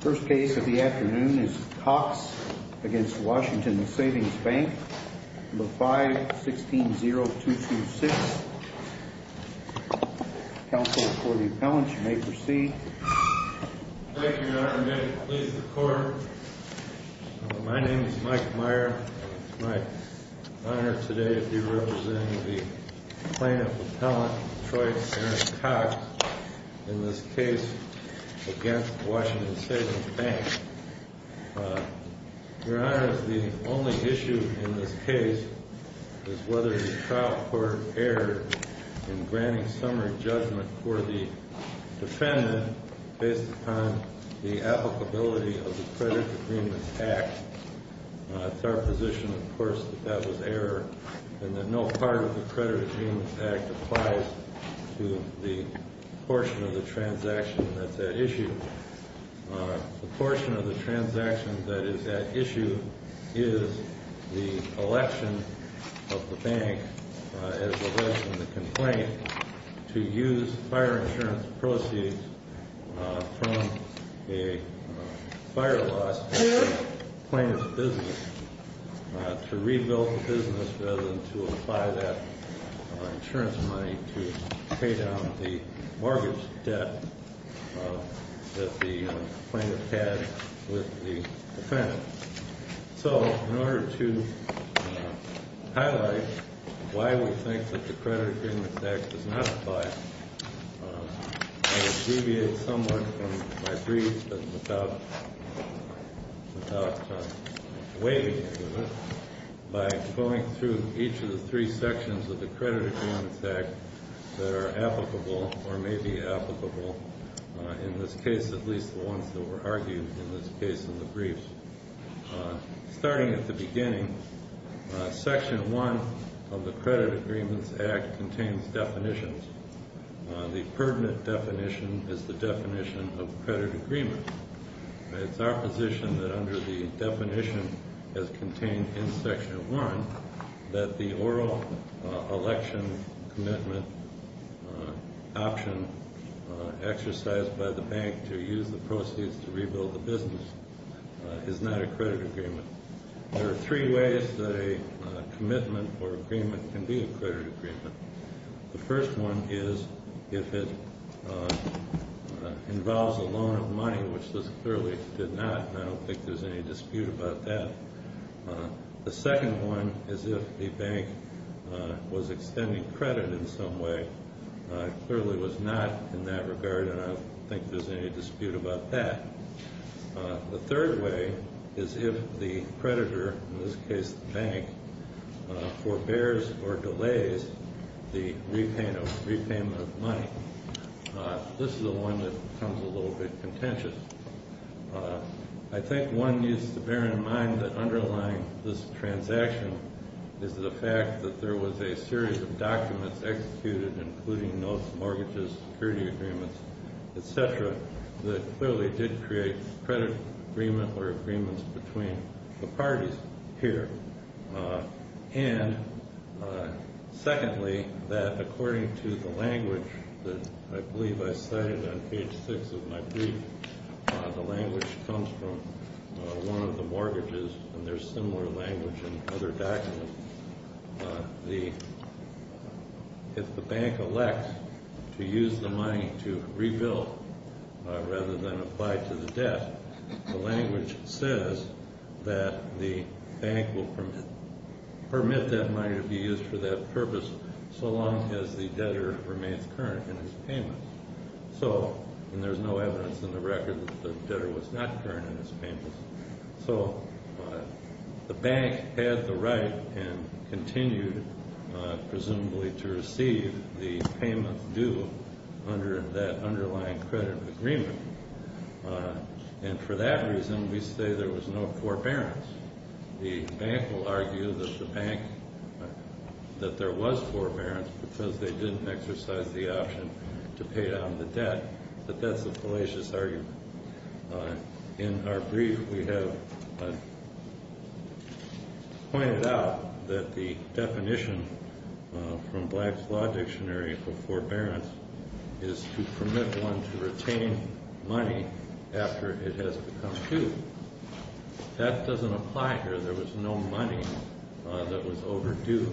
First case of the afternoon is Cox v. Washington Savings Bank, No. 516-0226. Counsel for the appellant, you may proceed. Thank you, Your Honor. May it please the Court. My name is Mike Meyer. It's my honor today to be representing the plaintiff appellant, Troy Aaron Cox, in this case against Washington Savings Bank. Your Honor, the only issue in this case is whether the trial court erred in granting summary judgment for the defendant based upon the applicability of the Credit Agreements Act. It's our position, of course, that that was error and that no part of the Credit Agreements Act applies to the portion of the transaction that's at issue. The portion of the transaction that is at issue is the election of the bank as a result of the complaint to use fire insurance proceeds from a fire loss in the plaintiff's business to rebuild the business rather than to apply that insurance money to pay down the mortgage debt that the plaintiff had with the defendant. So in order to highlight why we think that the Credit Agreements Act does not apply, I would deviate somewhat from my brief without waiving any of it by going through each of the three sections of the Credit Agreements Act that are applicable or may be applicable, in this case, at least the ones that were argued in this case in the briefs. Starting at the beginning, Section 1 of the Credit Agreements Act contains definitions. The pertinent definition is the definition of credit agreement. It's our position that under the definition as contained in Section 1 that the oral election commitment option exercised by the bank to use the proceeds to rebuild the business is not a credit agreement. There are three ways that a commitment or agreement can be a credit agreement. The first one is if it involves a loan of money, which this clearly did not, and I don't think there's any dispute about that. The second one is if the bank was extending credit in some way. It clearly was not in that regard, and I don't think there's any dispute about that. The third way is if the creditor, in this case the bank, forbears or delays the repayment of money. This is the one that becomes a little bit contentious. I think one needs to bear in mind that underlying this transaction is the fact that there was a series of documents executed, including notes, mortgages, security agreements, etc., that clearly did create credit agreement or agreements between the parties here. And secondly, that according to the language that I believe I cited on page 6 of my brief, the language comes from one of the mortgages, and there's similar language in other documents. If the bank elects to use the money to rebuild rather than apply to the debt, the language says that the bank will permit that money to be used for that purpose so long as the debtor remains current in his payment. And there's no evidence in the record that the debtor was not current in his payment. So the bank had the right and continued, presumably, to receive the payment due under that underlying credit agreement. And for that reason, we say there was no forbearance. The bank will argue that there was forbearance because they didn't exercise the option to pay down the debt, but that's a fallacious argument. In our brief, we have pointed out that the definition from Black's Law Dictionary for forbearance is to permit one to retain money after it has become due. That doesn't apply here. There was no money that was overdue.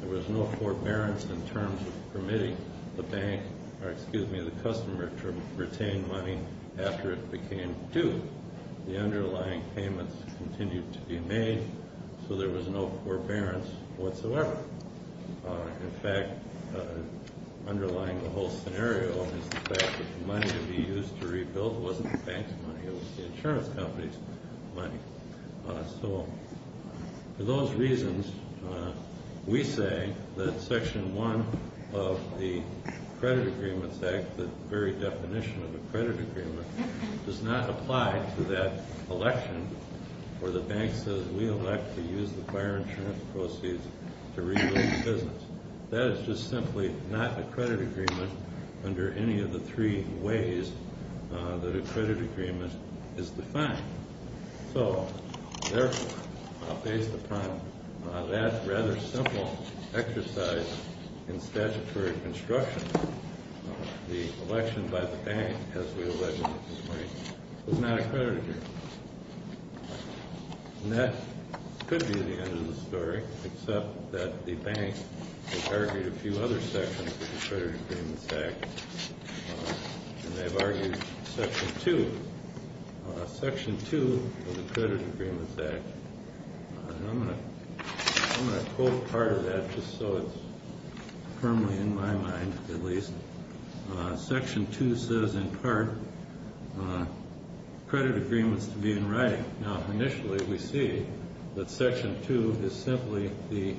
There was no forbearance in terms of permitting the customer to retain money after it became due. The underlying payments continued to be made, so there was no forbearance whatsoever. In fact, underlying the whole scenario is the fact that the money to be used to rebuild wasn't the bank's money. It was the insurance company's money. So for those reasons, we say that Section 1 of the Credit Agreements Act, the very definition of a credit agreement, does not apply to that election where the bank says, We elect to use the fire insurance proceeds to rebuild the business. That is just simply not a credit agreement under any of the three ways that a credit agreement is defined. So, therefore, based upon that rather simple exercise in statutory construction, the election by the bank has re-elected the money. It's not a credit agreement. And that could be the end of the story, except that the bank has argued a few other sections of the Credit Agreements Act, and they've argued Section 2. Section 2 of the Credit Agreements Act, and I'm going to quote part of that just so it's firmly in my mind, at least. Section 2 says, in part, credit agreements to be in writing. Now, initially, we see that Section 2 is simply the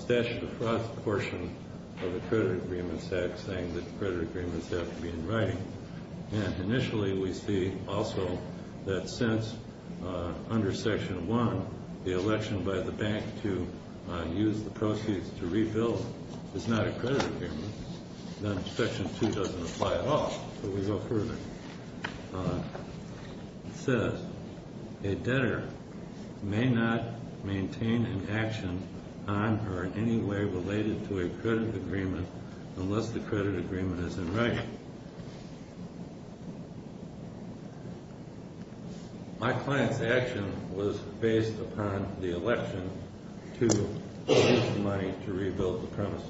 statute of frauds portion of the Credit Agreements Act saying that credit agreements have to be in writing. And initially, we see also that since under Section 1, the election by the bank to use the proceeds to rebuild is not a credit agreement, then Section 2 doesn't apply at all. So we go further. It says, a debtor may not maintain an action on or in any way related to a credit agreement unless the credit agreement is in writing. My client's action was based upon the election to use the money to rebuild the premises.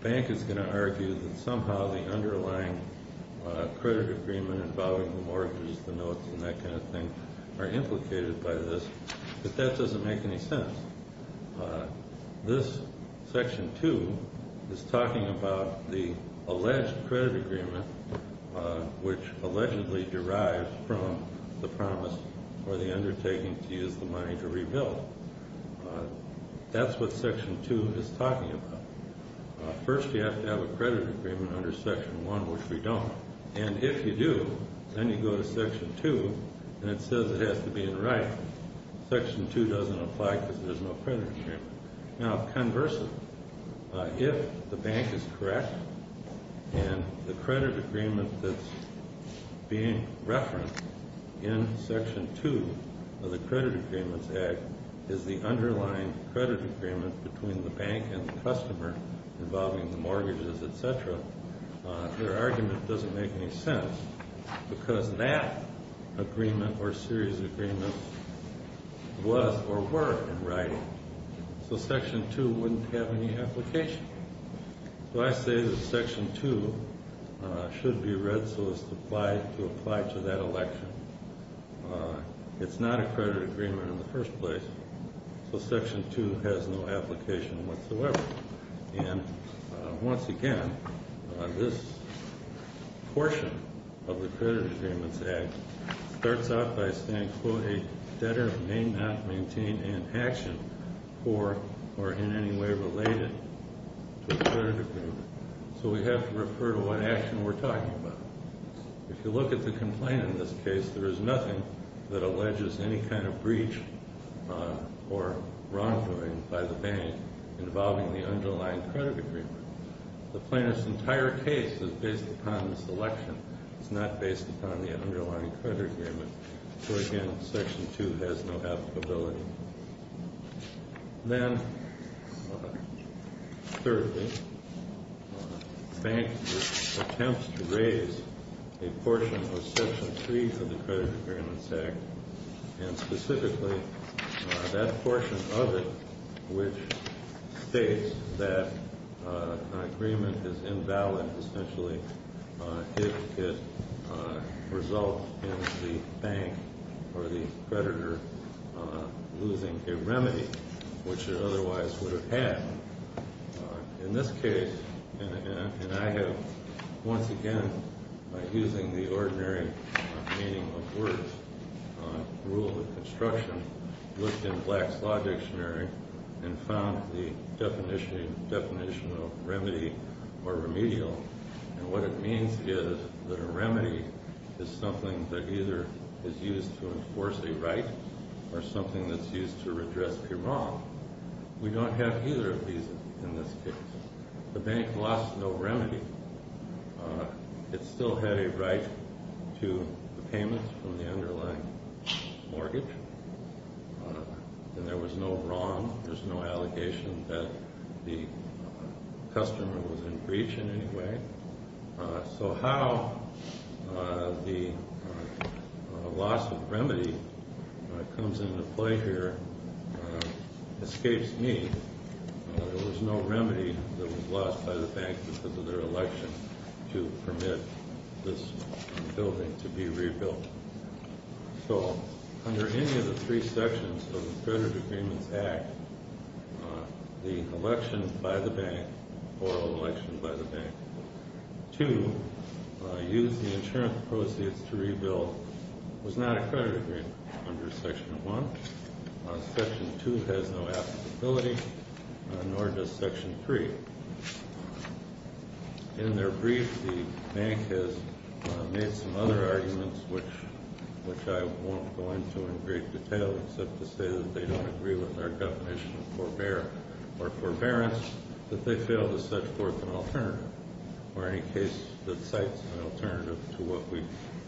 The bank is going to argue that somehow the underlying credit agreement involving the mortgages, the notes, and that kind of thing are implicated by this, but that doesn't make any sense. This Section 2 is talking about the alleged credit agreement, which allegedly derives from the promise or the undertaking to use the money to rebuild. That's what Section 2 is talking about. First, you have to have a credit agreement under Section 1, which we don't. And if you do, then you go to Section 2, and it says it has to be in writing. Section 2 doesn't apply because there's no credit agreement. Now, conversely, if the bank is correct and the credit agreement that's being referenced in Section 2 of the Credit Agreements Act is the underlying credit agreement between the bank and the customer involving the mortgages, et cetera, your argument doesn't make any sense because that agreement or series of agreements was or were in writing. So Section 2 wouldn't have any application. So I say that Section 2 should be read so as to apply to that election. It's not a credit agreement in the first place, so Section 2 has no application whatsoever. And once again, this portion of the Credit Agreements Act starts out by saying, quote, a debtor may not maintain an action for or in any way related to a credit agreement. So we have to refer to what action we're talking about. If you look at the complaint in this case, there is nothing that alleges any kind of breach or wrongdoing by the bank involving the underlying credit agreement. The plaintiff's entire case is based upon this election. It's not based upon the underlying credit agreement. So again, Section 2 has no applicability. Then thirdly, the bank attempts to raise a portion of Section 3 of the Credit Agreements Act, and specifically that portion of it which states that an agreement is invalid, if it results in the bank or the creditor losing a remedy which it otherwise would have had. In this case, and I have once again, by using the ordinary meaning of words, rule of construction, looked in Black's Law Dictionary and found the definition of remedy or remedial. And what it means is that a remedy is something that either is used to enforce a right or something that's used to redress a wrong. We don't have either of these in this case. The bank lost no remedy. It still had a right to the payments from the underlying mortgage, and there was no wrong. There's no allegation that the customer was in breach in any way. So how the loss of remedy comes into play here escapes me. There was no remedy that was lost by the bank because of their election to permit this building to be rebuilt. So under any of the three sections of the Credit Agreements Act, the election by the bank or election by the bank, to use the insurance proceeds to rebuild was not a credit agreement under Section 1. Section 2 has no applicability, nor does Section 3. In their brief, the bank has made some other arguments, which I won't go into in great detail, except to say that they don't agree with our definition of forbear or forbearance, that they fail to set forth an alternative or any case that cites an alternative to what we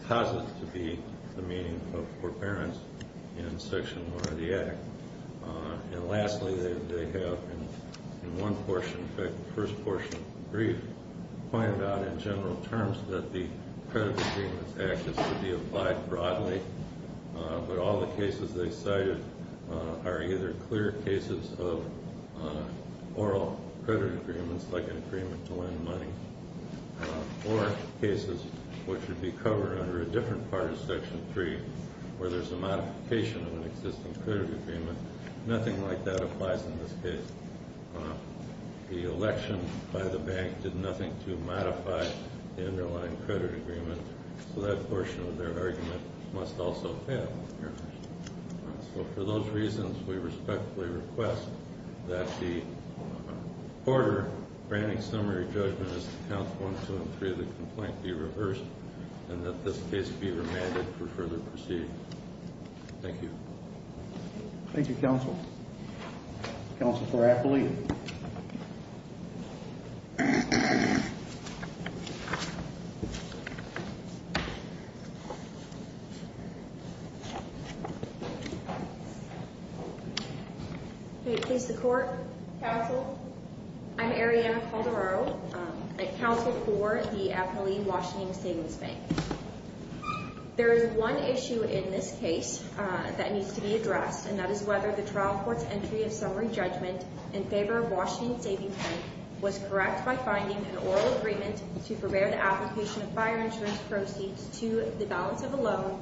posit to be the meaning of forbearance in Section 1 of the Act. And lastly, they have, in one portion, in fact, the first portion of the brief, pointed out in general terms that the Credit Agreements Act is to be applied broadly, but all the cases they cited are either clear cases of oral credit agreements, like an agreement to lend money, or cases which would be covered under a different part of Section 3 where there's a modification of an existing credit agreement. Nothing like that applies in this case. The election by the bank did nothing to modify the underlying credit agreement, so that portion of their argument must also fail. So for those reasons, we respectfully request that the order granting summary judgment as to Counts 1, 2, and 3 of the complaint be reversed and that this case be remanded for further proceeding. Thank you. Thank you, Counsel. Counsel for Appellee. May it please the Court? Counsel? I'm Arianna Calderaro, Counsel for the Appellee, Washington Savings Bank. There is one issue in this case that needs to be addressed, and that is whether the trial court's entry of summary judgment in favor of Washington Savings Bank was correct by finding an oral agreement to prepare the application of fire insurance proceeds to the balance of a loan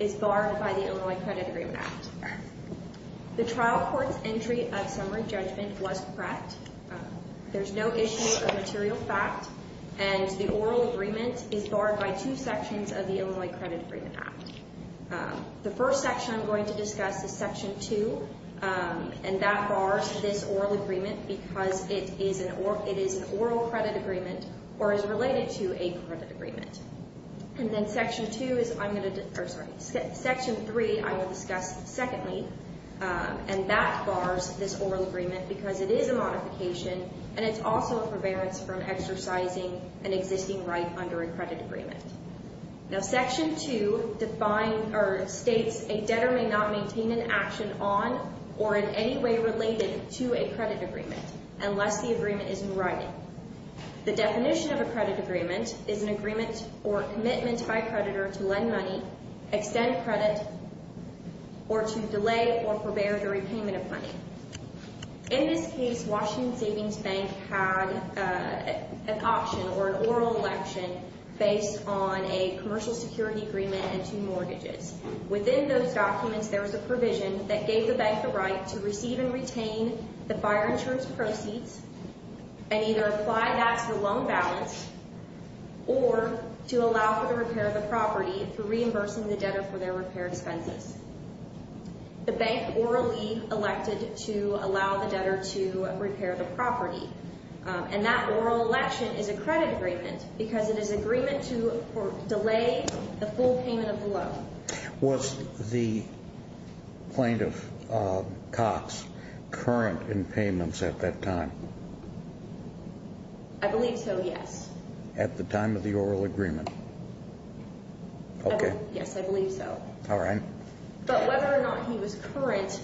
is barred by the underlying credit agreement act. The trial court's entry of summary judgment was correct. There's no issue of material fact, and the oral agreement is barred by two sections of the Illinois Credit Agreement Act. The first section I'm going to discuss is Section 2, and that bars this oral agreement because it is an oral credit agreement or is related to a credit agreement. And then Section 3 I will discuss secondly, and that bars this oral agreement because it is a modification, and it's also a forbearance from exercising an existing right under a credit agreement. Now, Section 2 states a debtor may not maintain an action on or in any way related to a credit agreement unless the agreement is in writing. The definition of a credit agreement is an agreement or commitment by a creditor to lend money, extend credit, or to delay or forbear the repayment of money. In this case, Washington Savings Bank had an auction or an oral election based on a commercial security agreement and two mortgages. Within those documents, there was a provision that gave the bank the right to receive and retain the fire insurance proceeds and either apply that to the loan balance or to allow for the repair of the property for reimbursing the debtor for their repair expenses. The bank orally elected to allow the debtor to repair the property, and that oral election is a credit agreement because it is agreement to delay the full payment of the loan. Was the plaintiff, Cox, current in payments at that time? I believe so, yes. At the time of the oral agreement? Okay. Yes, I believe so. All right. But whether or not he was current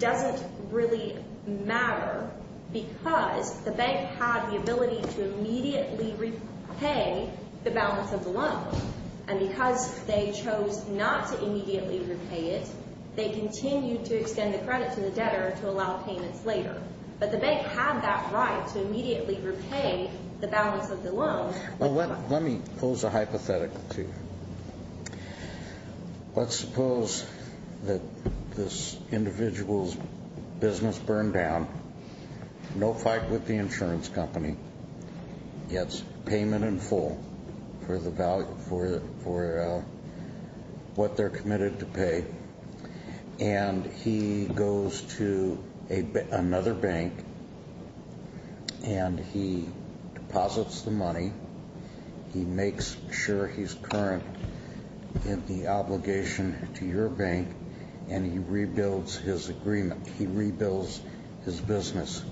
doesn't really matter because the bank had the ability to immediately repay the balance of the loan, and because they chose not to immediately repay it, they continued to extend the credit to the debtor to allow payments later. But the bank had that right to immediately repay the balance of the loan. Well, let me pose a hypothetical to you. Let's suppose that this individual's business burned down, no fight with the insurance company, gets payment in full for what they're committed to pay, and he goes to another bank and he deposits the money, he makes sure he's current in the obligation to your bank, and he rebuilds his agreement, he rebuilds his business.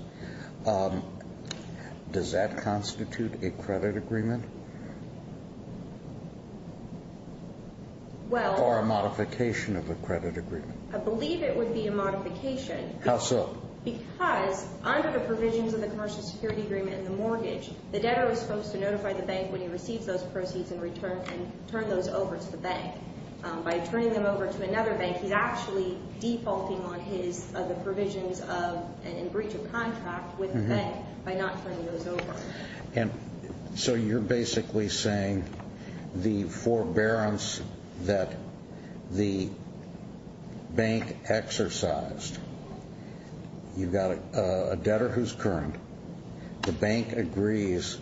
Does that constitute a credit agreement? Or a modification of a credit agreement? I believe it would be a modification. How so? Because under the provisions of the commercial security agreement and the mortgage, the debtor was supposed to notify the bank when he receives those proceeds and turn those over to the bank. By turning them over to another bank, he's actually defaulting on the provisions and breach of contract with the bank by not turning those over. So you're basically saying the forbearance that the bank exercised, you've got a debtor who's current, the bank agrees,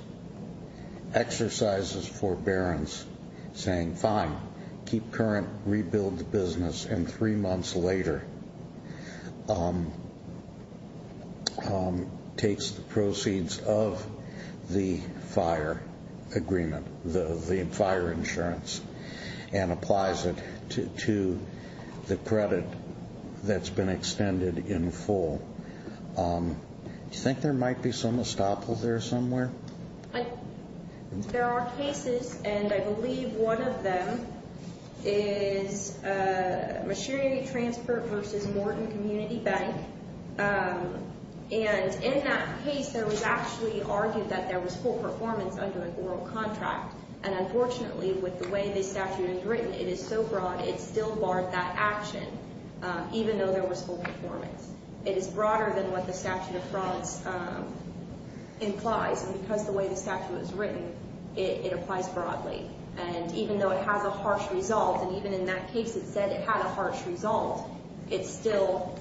exercises forbearance saying, fine, keep current, rebuild the business, and three months later takes the proceeds of the fire agreement, the fire insurance, and applies it to the credit that's been extended in full. Do you think there might be some estoppel there somewhere? There are cases, and I believe one of them is machinery transfer versus Morton Community Bank. And in that case, it was actually argued that there was full performance under a oral contract. And unfortunately, with the way this statute is written, it is so broad, it still barred that action, even though there was full performance. It is broader than what the statute of frauds implies, and because of the way the statute is written, it applies broadly. And even though it has a harsh result, and even in that case it said it had a harsh result, it still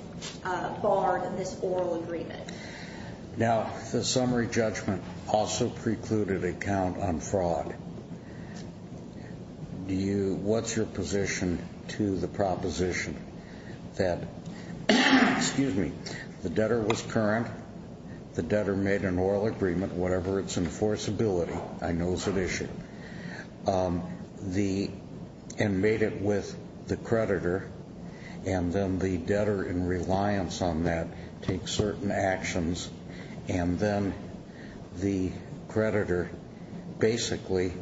barred this oral agreement. Now, the summary judgment also precluded a count on fraud. What's your position to the proposition that, excuse me, the debtor was current, the debtor made an oral agreement, whatever its enforceability, I know is at issue, and made it with the creditor, and then the debtor, in reliance on that, takes certain actions, and then the creditor basically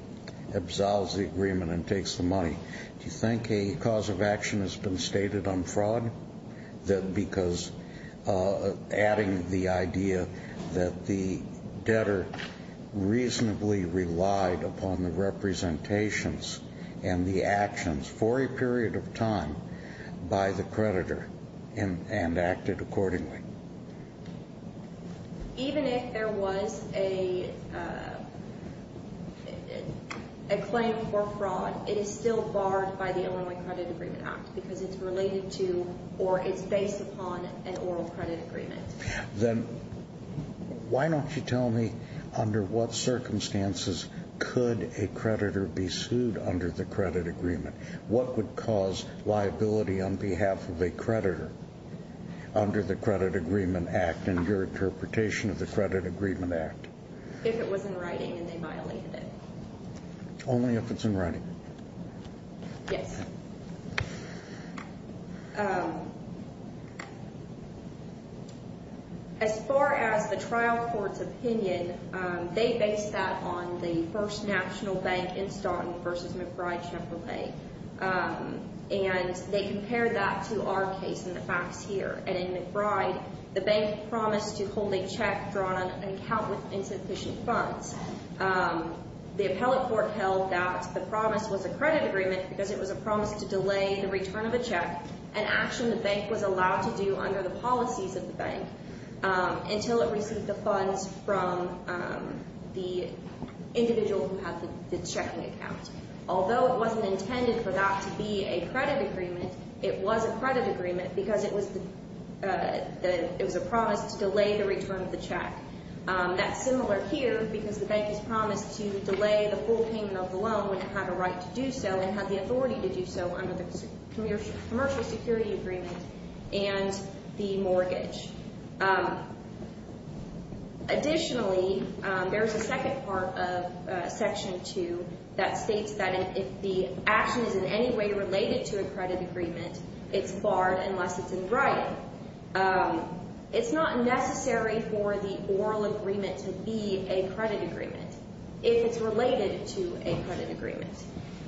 absolves the agreement and takes the money. Do you think a cause of action has been stated on fraud? Because adding the idea that the debtor reasonably relied upon the representations and the actions for a period of time by the creditor and acted accordingly. Even if there was a claim for fraud, it is still barred by the Illinois Credit Agreement Act because it's related to or it's based upon an oral credit agreement. Then why don't you tell me under what circumstances could a creditor be sued under the credit agreement? What would cause liability on behalf of a creditor under the Credit Agreement Act and your interpretation of the Credit Agreement Act? If it was in writing and they violated it. Only if it's in writing? Yes. As far as the trial court's opinion, they based that on the first national bank in Staunton versus McBride Chevrolet. And they compared that to our case in the facts here. And in McBride, the bank promised to hold a check drawn on an account with insufficient funds. The appellate court held that the promise was a credit agreement because it was a promise to delay the return of a check, an action the bank was allowed to do under the policies of the bank, until it received the funds from the individual who had the checking account. Although it wasn't intended for that to be a credit agreement, it was a credit agreement because it was a promise to delay the return of the check. That's similar here because the bank has promised to delay the full payment of the loan and have a right to do so and have the authority to do so under the Commercial Security Agreement and the mortgage. Additionally, there's a second part of Section 2 that states that if the action is in any way related to a credit agreement, it's barred unless it's in writing. It's not necessary for the oral agreement to be a credit agreement if it's related to a credit agreement.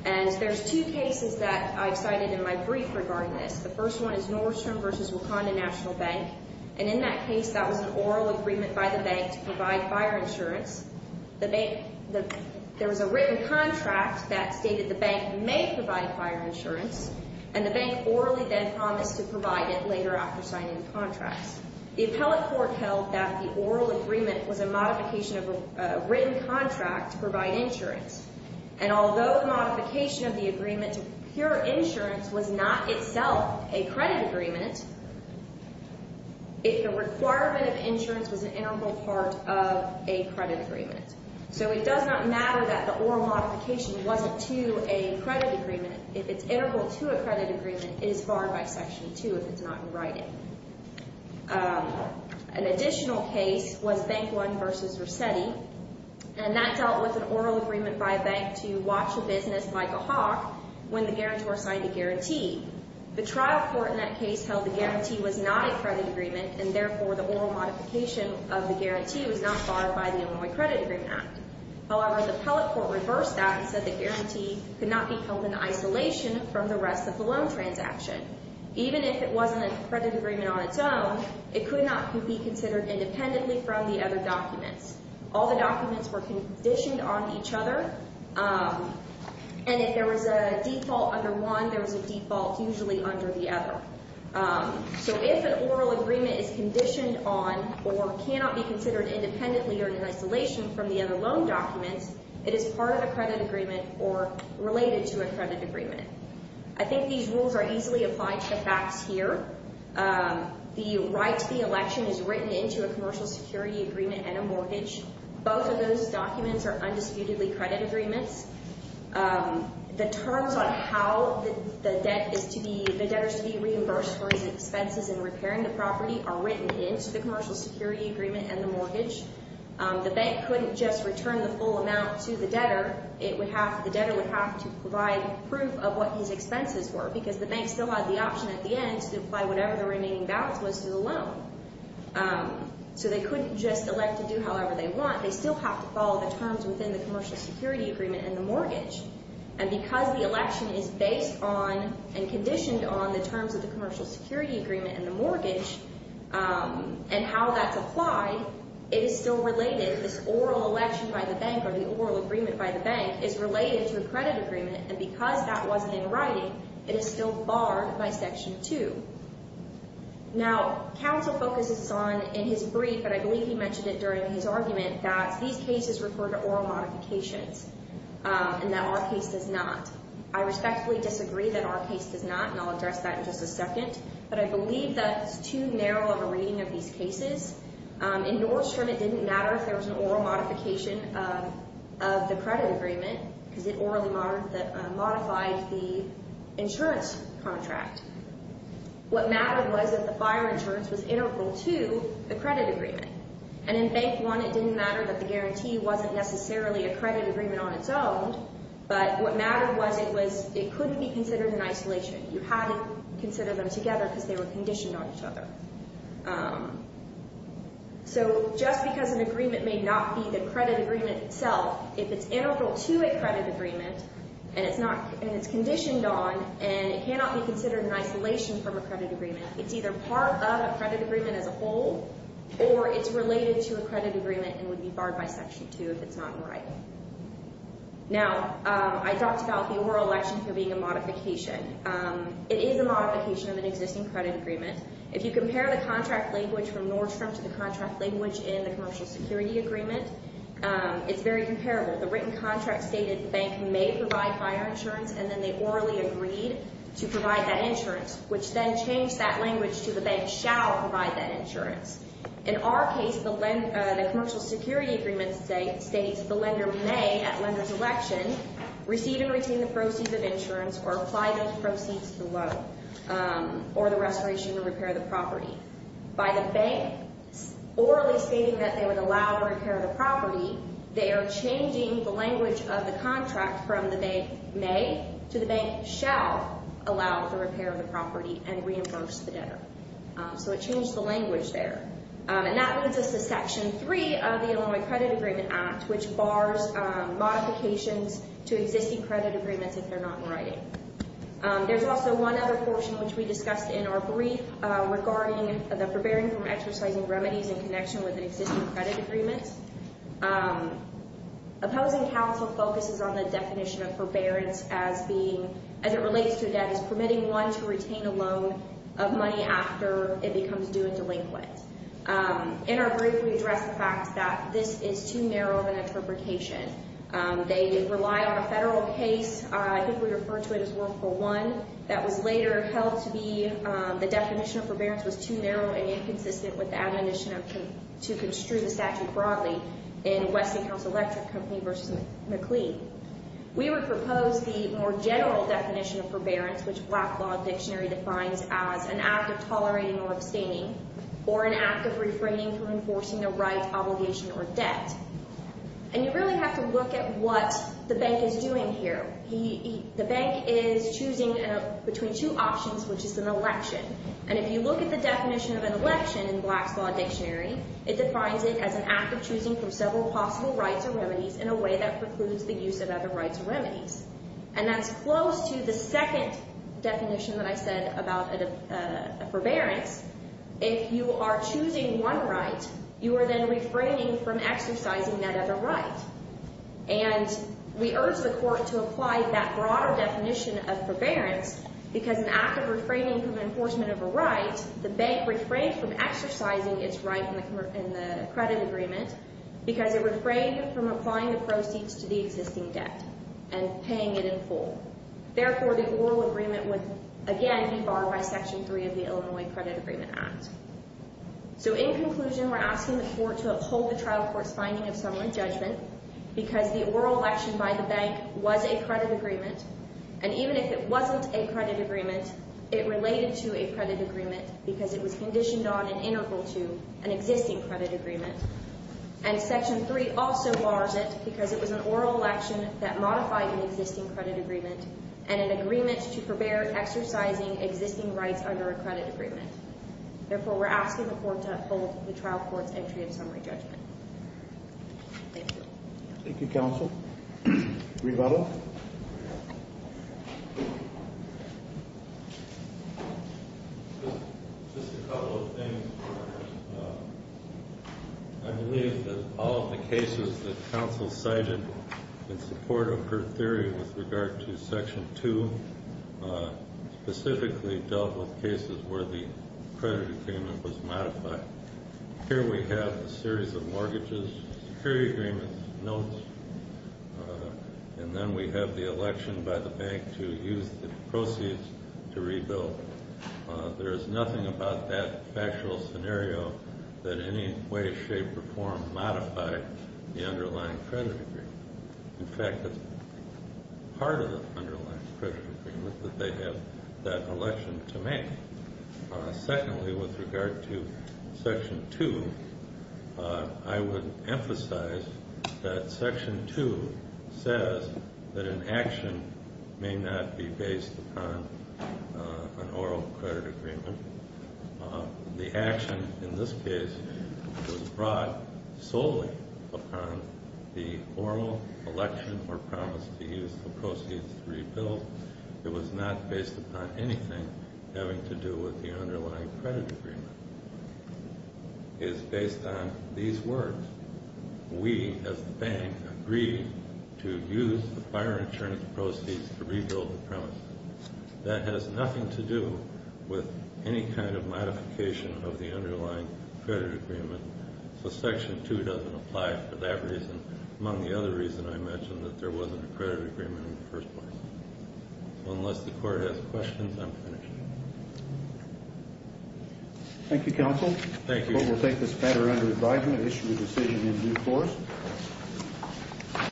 And there's two cases that I've cited in my brief regarding this. The first one is Nordstrom v. Wakanda National Bank. And in that case, that was an oral agreement by the bank to provide fire insurance. There was a written contract that stated the bank may provide fire insurance, and the bank orally then promised to provide it later after signing the contracts. The appellate court held that the oral agreement was a modification of a written contract to provide insurance. And although the modification of the agreement to procure insurance was not itself a credit agreement, the requirement of insurance was an integral part of a credit agreement. So it does not matter that the oral modification wasn't to a credit agreement. If it's integral to a credit agreement, it is barred by Section 2 if it's not in writing. An additional case was Bank One v. Resetti. And that dealt with an oral agreement by a bank to watch a business like a hawk when the guarantor signed a guarantee. The trial court in that case held the guarantee was not a credit agreement, and therefore the oral modification of the guarantee was not barred by the Illinois Credit Agreement Act. However, the appellate court reversed that and said the guarantee could not be held in isolation from the rest of the loan transaction. Even if it wasn't a credit agreement on its own, it could not be considered independently from the other documents. All the documents were conditioned on each other. And if there was a default under one, there was a default usually under the other. So if an oral agreement is conditioned on or cannot be considered independently or in isolation from the other loan documents, it is part of a credit agreement or related to a credit agreement. I think these rules are easily applied to the facts here. The right to the election is written into a commercial security agreement and a mortgage. Both of those documents are undisputedly credit agreements. The terms on how the debtor is to be reimbursed for his expenses in repairing the property are written into the commercial security agreement and the mortgage. The bank couldn't just return the full amount to the debtor. The debtor would have to provide proof of what his expenses were, because the bank still had the option at the end to apply whatever the remaining balance was to the loan. So they couldn't just elect to do however they want. They still have to follow the terms within the commercial security agreement and the mortgage. And because the election is based on and conditioned on the terms of the commercial security agreement and the mortgage, and how that's applied, it is still related. This oral election by the bank or the oral agreement by the bank is related to a credit agreement. And because that wasn't in writing, it is still barred by Section 2. Now, counsel focuses on in his brief, but I believe he mentioned it during his argument, that these cases refer to oral modifications and that our case does not. I respectfully disagree that our case does not, and I'll address that in just a second. But I believe that's too narrow of a reading of these cases. In Nordstrom, it didn't matter if there was an oral modification of the credit agreement, because it orally modified the insurance contract. What mattered was that the buyer insurance was integral to the credit agreement. And in Bank 1, it didn't matter that the guarantee wasn't necessarily a credit agreement on its own, but what mattered was it couldn't be considered in isolation. You had to consider them together because they were conditioned on each other. So just because an agreement may not be the credit agreement itself, if it's integral to a credit agreement and it's conditioned on and it cannot be considered in isolation from a credit agreement, it's either part of a credit agreement as a whole or it's related to a credit agreement and would be barred by Section 2 if it's not in writing. Now, I talked about the oral election for being a modification. It is a modification of an existing credit agreement. If you compare the contract language from Nordstrom to the contract language in the commercial security agreement, it's very comparable. The written contract stated the bank may provide buyer insurance and then they orally agreed to provide that insurance, which then changed that language to the bank shall provide that insurance. In our case, the commercial security agreement states the lender may, at lender's election, receive and retain the proceeds of insurance or apply those proceeds to the loan or the restoration or repair of the property. By the bank orally stating that they would allow repair of the property, they are changing the language of the contract from the bank may to the bank shall allow the repair of the property and reimburse the debtor. So it changed the language there. And that leads us to Section 3 of the Illinois Credit Agreement Act, which bars modifications to existing credit agreements if they're not in writing. There's also one other portion, which we discussed in our brief, regarding the forbearing from exercising remedies in connection with an existing credit agreement. Opposing counsel focuses on the definition of forbearance as it relates to debt as permitting one to retain a loan of money after it becomes due and delinquent. In our brief, we address the fact that this is too narrow of an interpretation. They rely on a federal case. I think we refer to it as World War I. That was later held to be the definition of forbearance was too narrow and inconsistent with the admonition to construe the statute broadly in Westinghouse Electric Company v. McLean. We would propose the more general definition of forbearance, which Black Law Dictionary defines as an act of tolerating or abstaining or an act of refraining from enforcing the right, obligation, or debt. You really have to look at what the bank is doing here. The bank is choosing between two options, which is an election. If you look at the definition of an election in Black's Law Dictionary, it defines it as an act of choosing from several possible rights or remedies in a way that precludes the use of other rights or remedies. That's close to the second definition that I said about forbearance. If you are choosing one right, you are then refraining from exercising that other right. We urge the court to apply that broader definition of forbearance because an act of refraining from enforcement of a right, the bank refrained from exercising its right in the credit agreement because it refrained from applying the proceeds to the existing debt and paying it in full. Therefore, the oral agreement would again be barred by Section 3 of the Illinois Credit Agreement Act. In conclusion, we are asking the court to uphold the trial court's finding of summary judgment because the oral election by the bank was a credit agreement, and even if it wasn't a credit agreement, it related to a credit agreement because it was conditioned on and integral to an existing credit agreement. And Section 3 also bars it because it was an oral election that modified an existing credit agreement and an agreement to forbear exercising existing rights under a credit agreement. Therefore, we're asking the court to uphold the trial court's entry of summary judgment. Thank you. Thank you, counsel. Revato? Just a couple of things. I believe that all of the cases that counsel cited in support of her theory with regard to Section 2 specifically dealt with cases where the credit agreement was modified. Here we have a series of mortgages, security agreements, notes, and then we have the election by the bank to use the proceeds to rebuild. There is nothing about that factual scenario that in any way, shape, or form modified the underlying credit agreement. In fact, it's part of the underlying credit agreement that they have that election to make. Secondly, with regard to Section 2, I would emphasize that Section 2 says that an action may not be based upon an oral credit agreement. The action in this case was brought solely upon the formal election or promise to use the proceeds to rebuild. It was not based upon anything having to do with the underlying credit agreement. It is based on these words. We, as the bank, agreed to use the fire insurance proceeds to rebuild the premise. That has nothing to do with any kind of modification of the underlying credit agreement, so Section 2 doesn't apply for that reason, among the other reasons I mentioned that there wasn't a credit agreement in the first place. Unless the Court has questions, I'm finished. Thank you, Counsel. Thank you. The Court will take this matter under advisement and issue a decision in due course.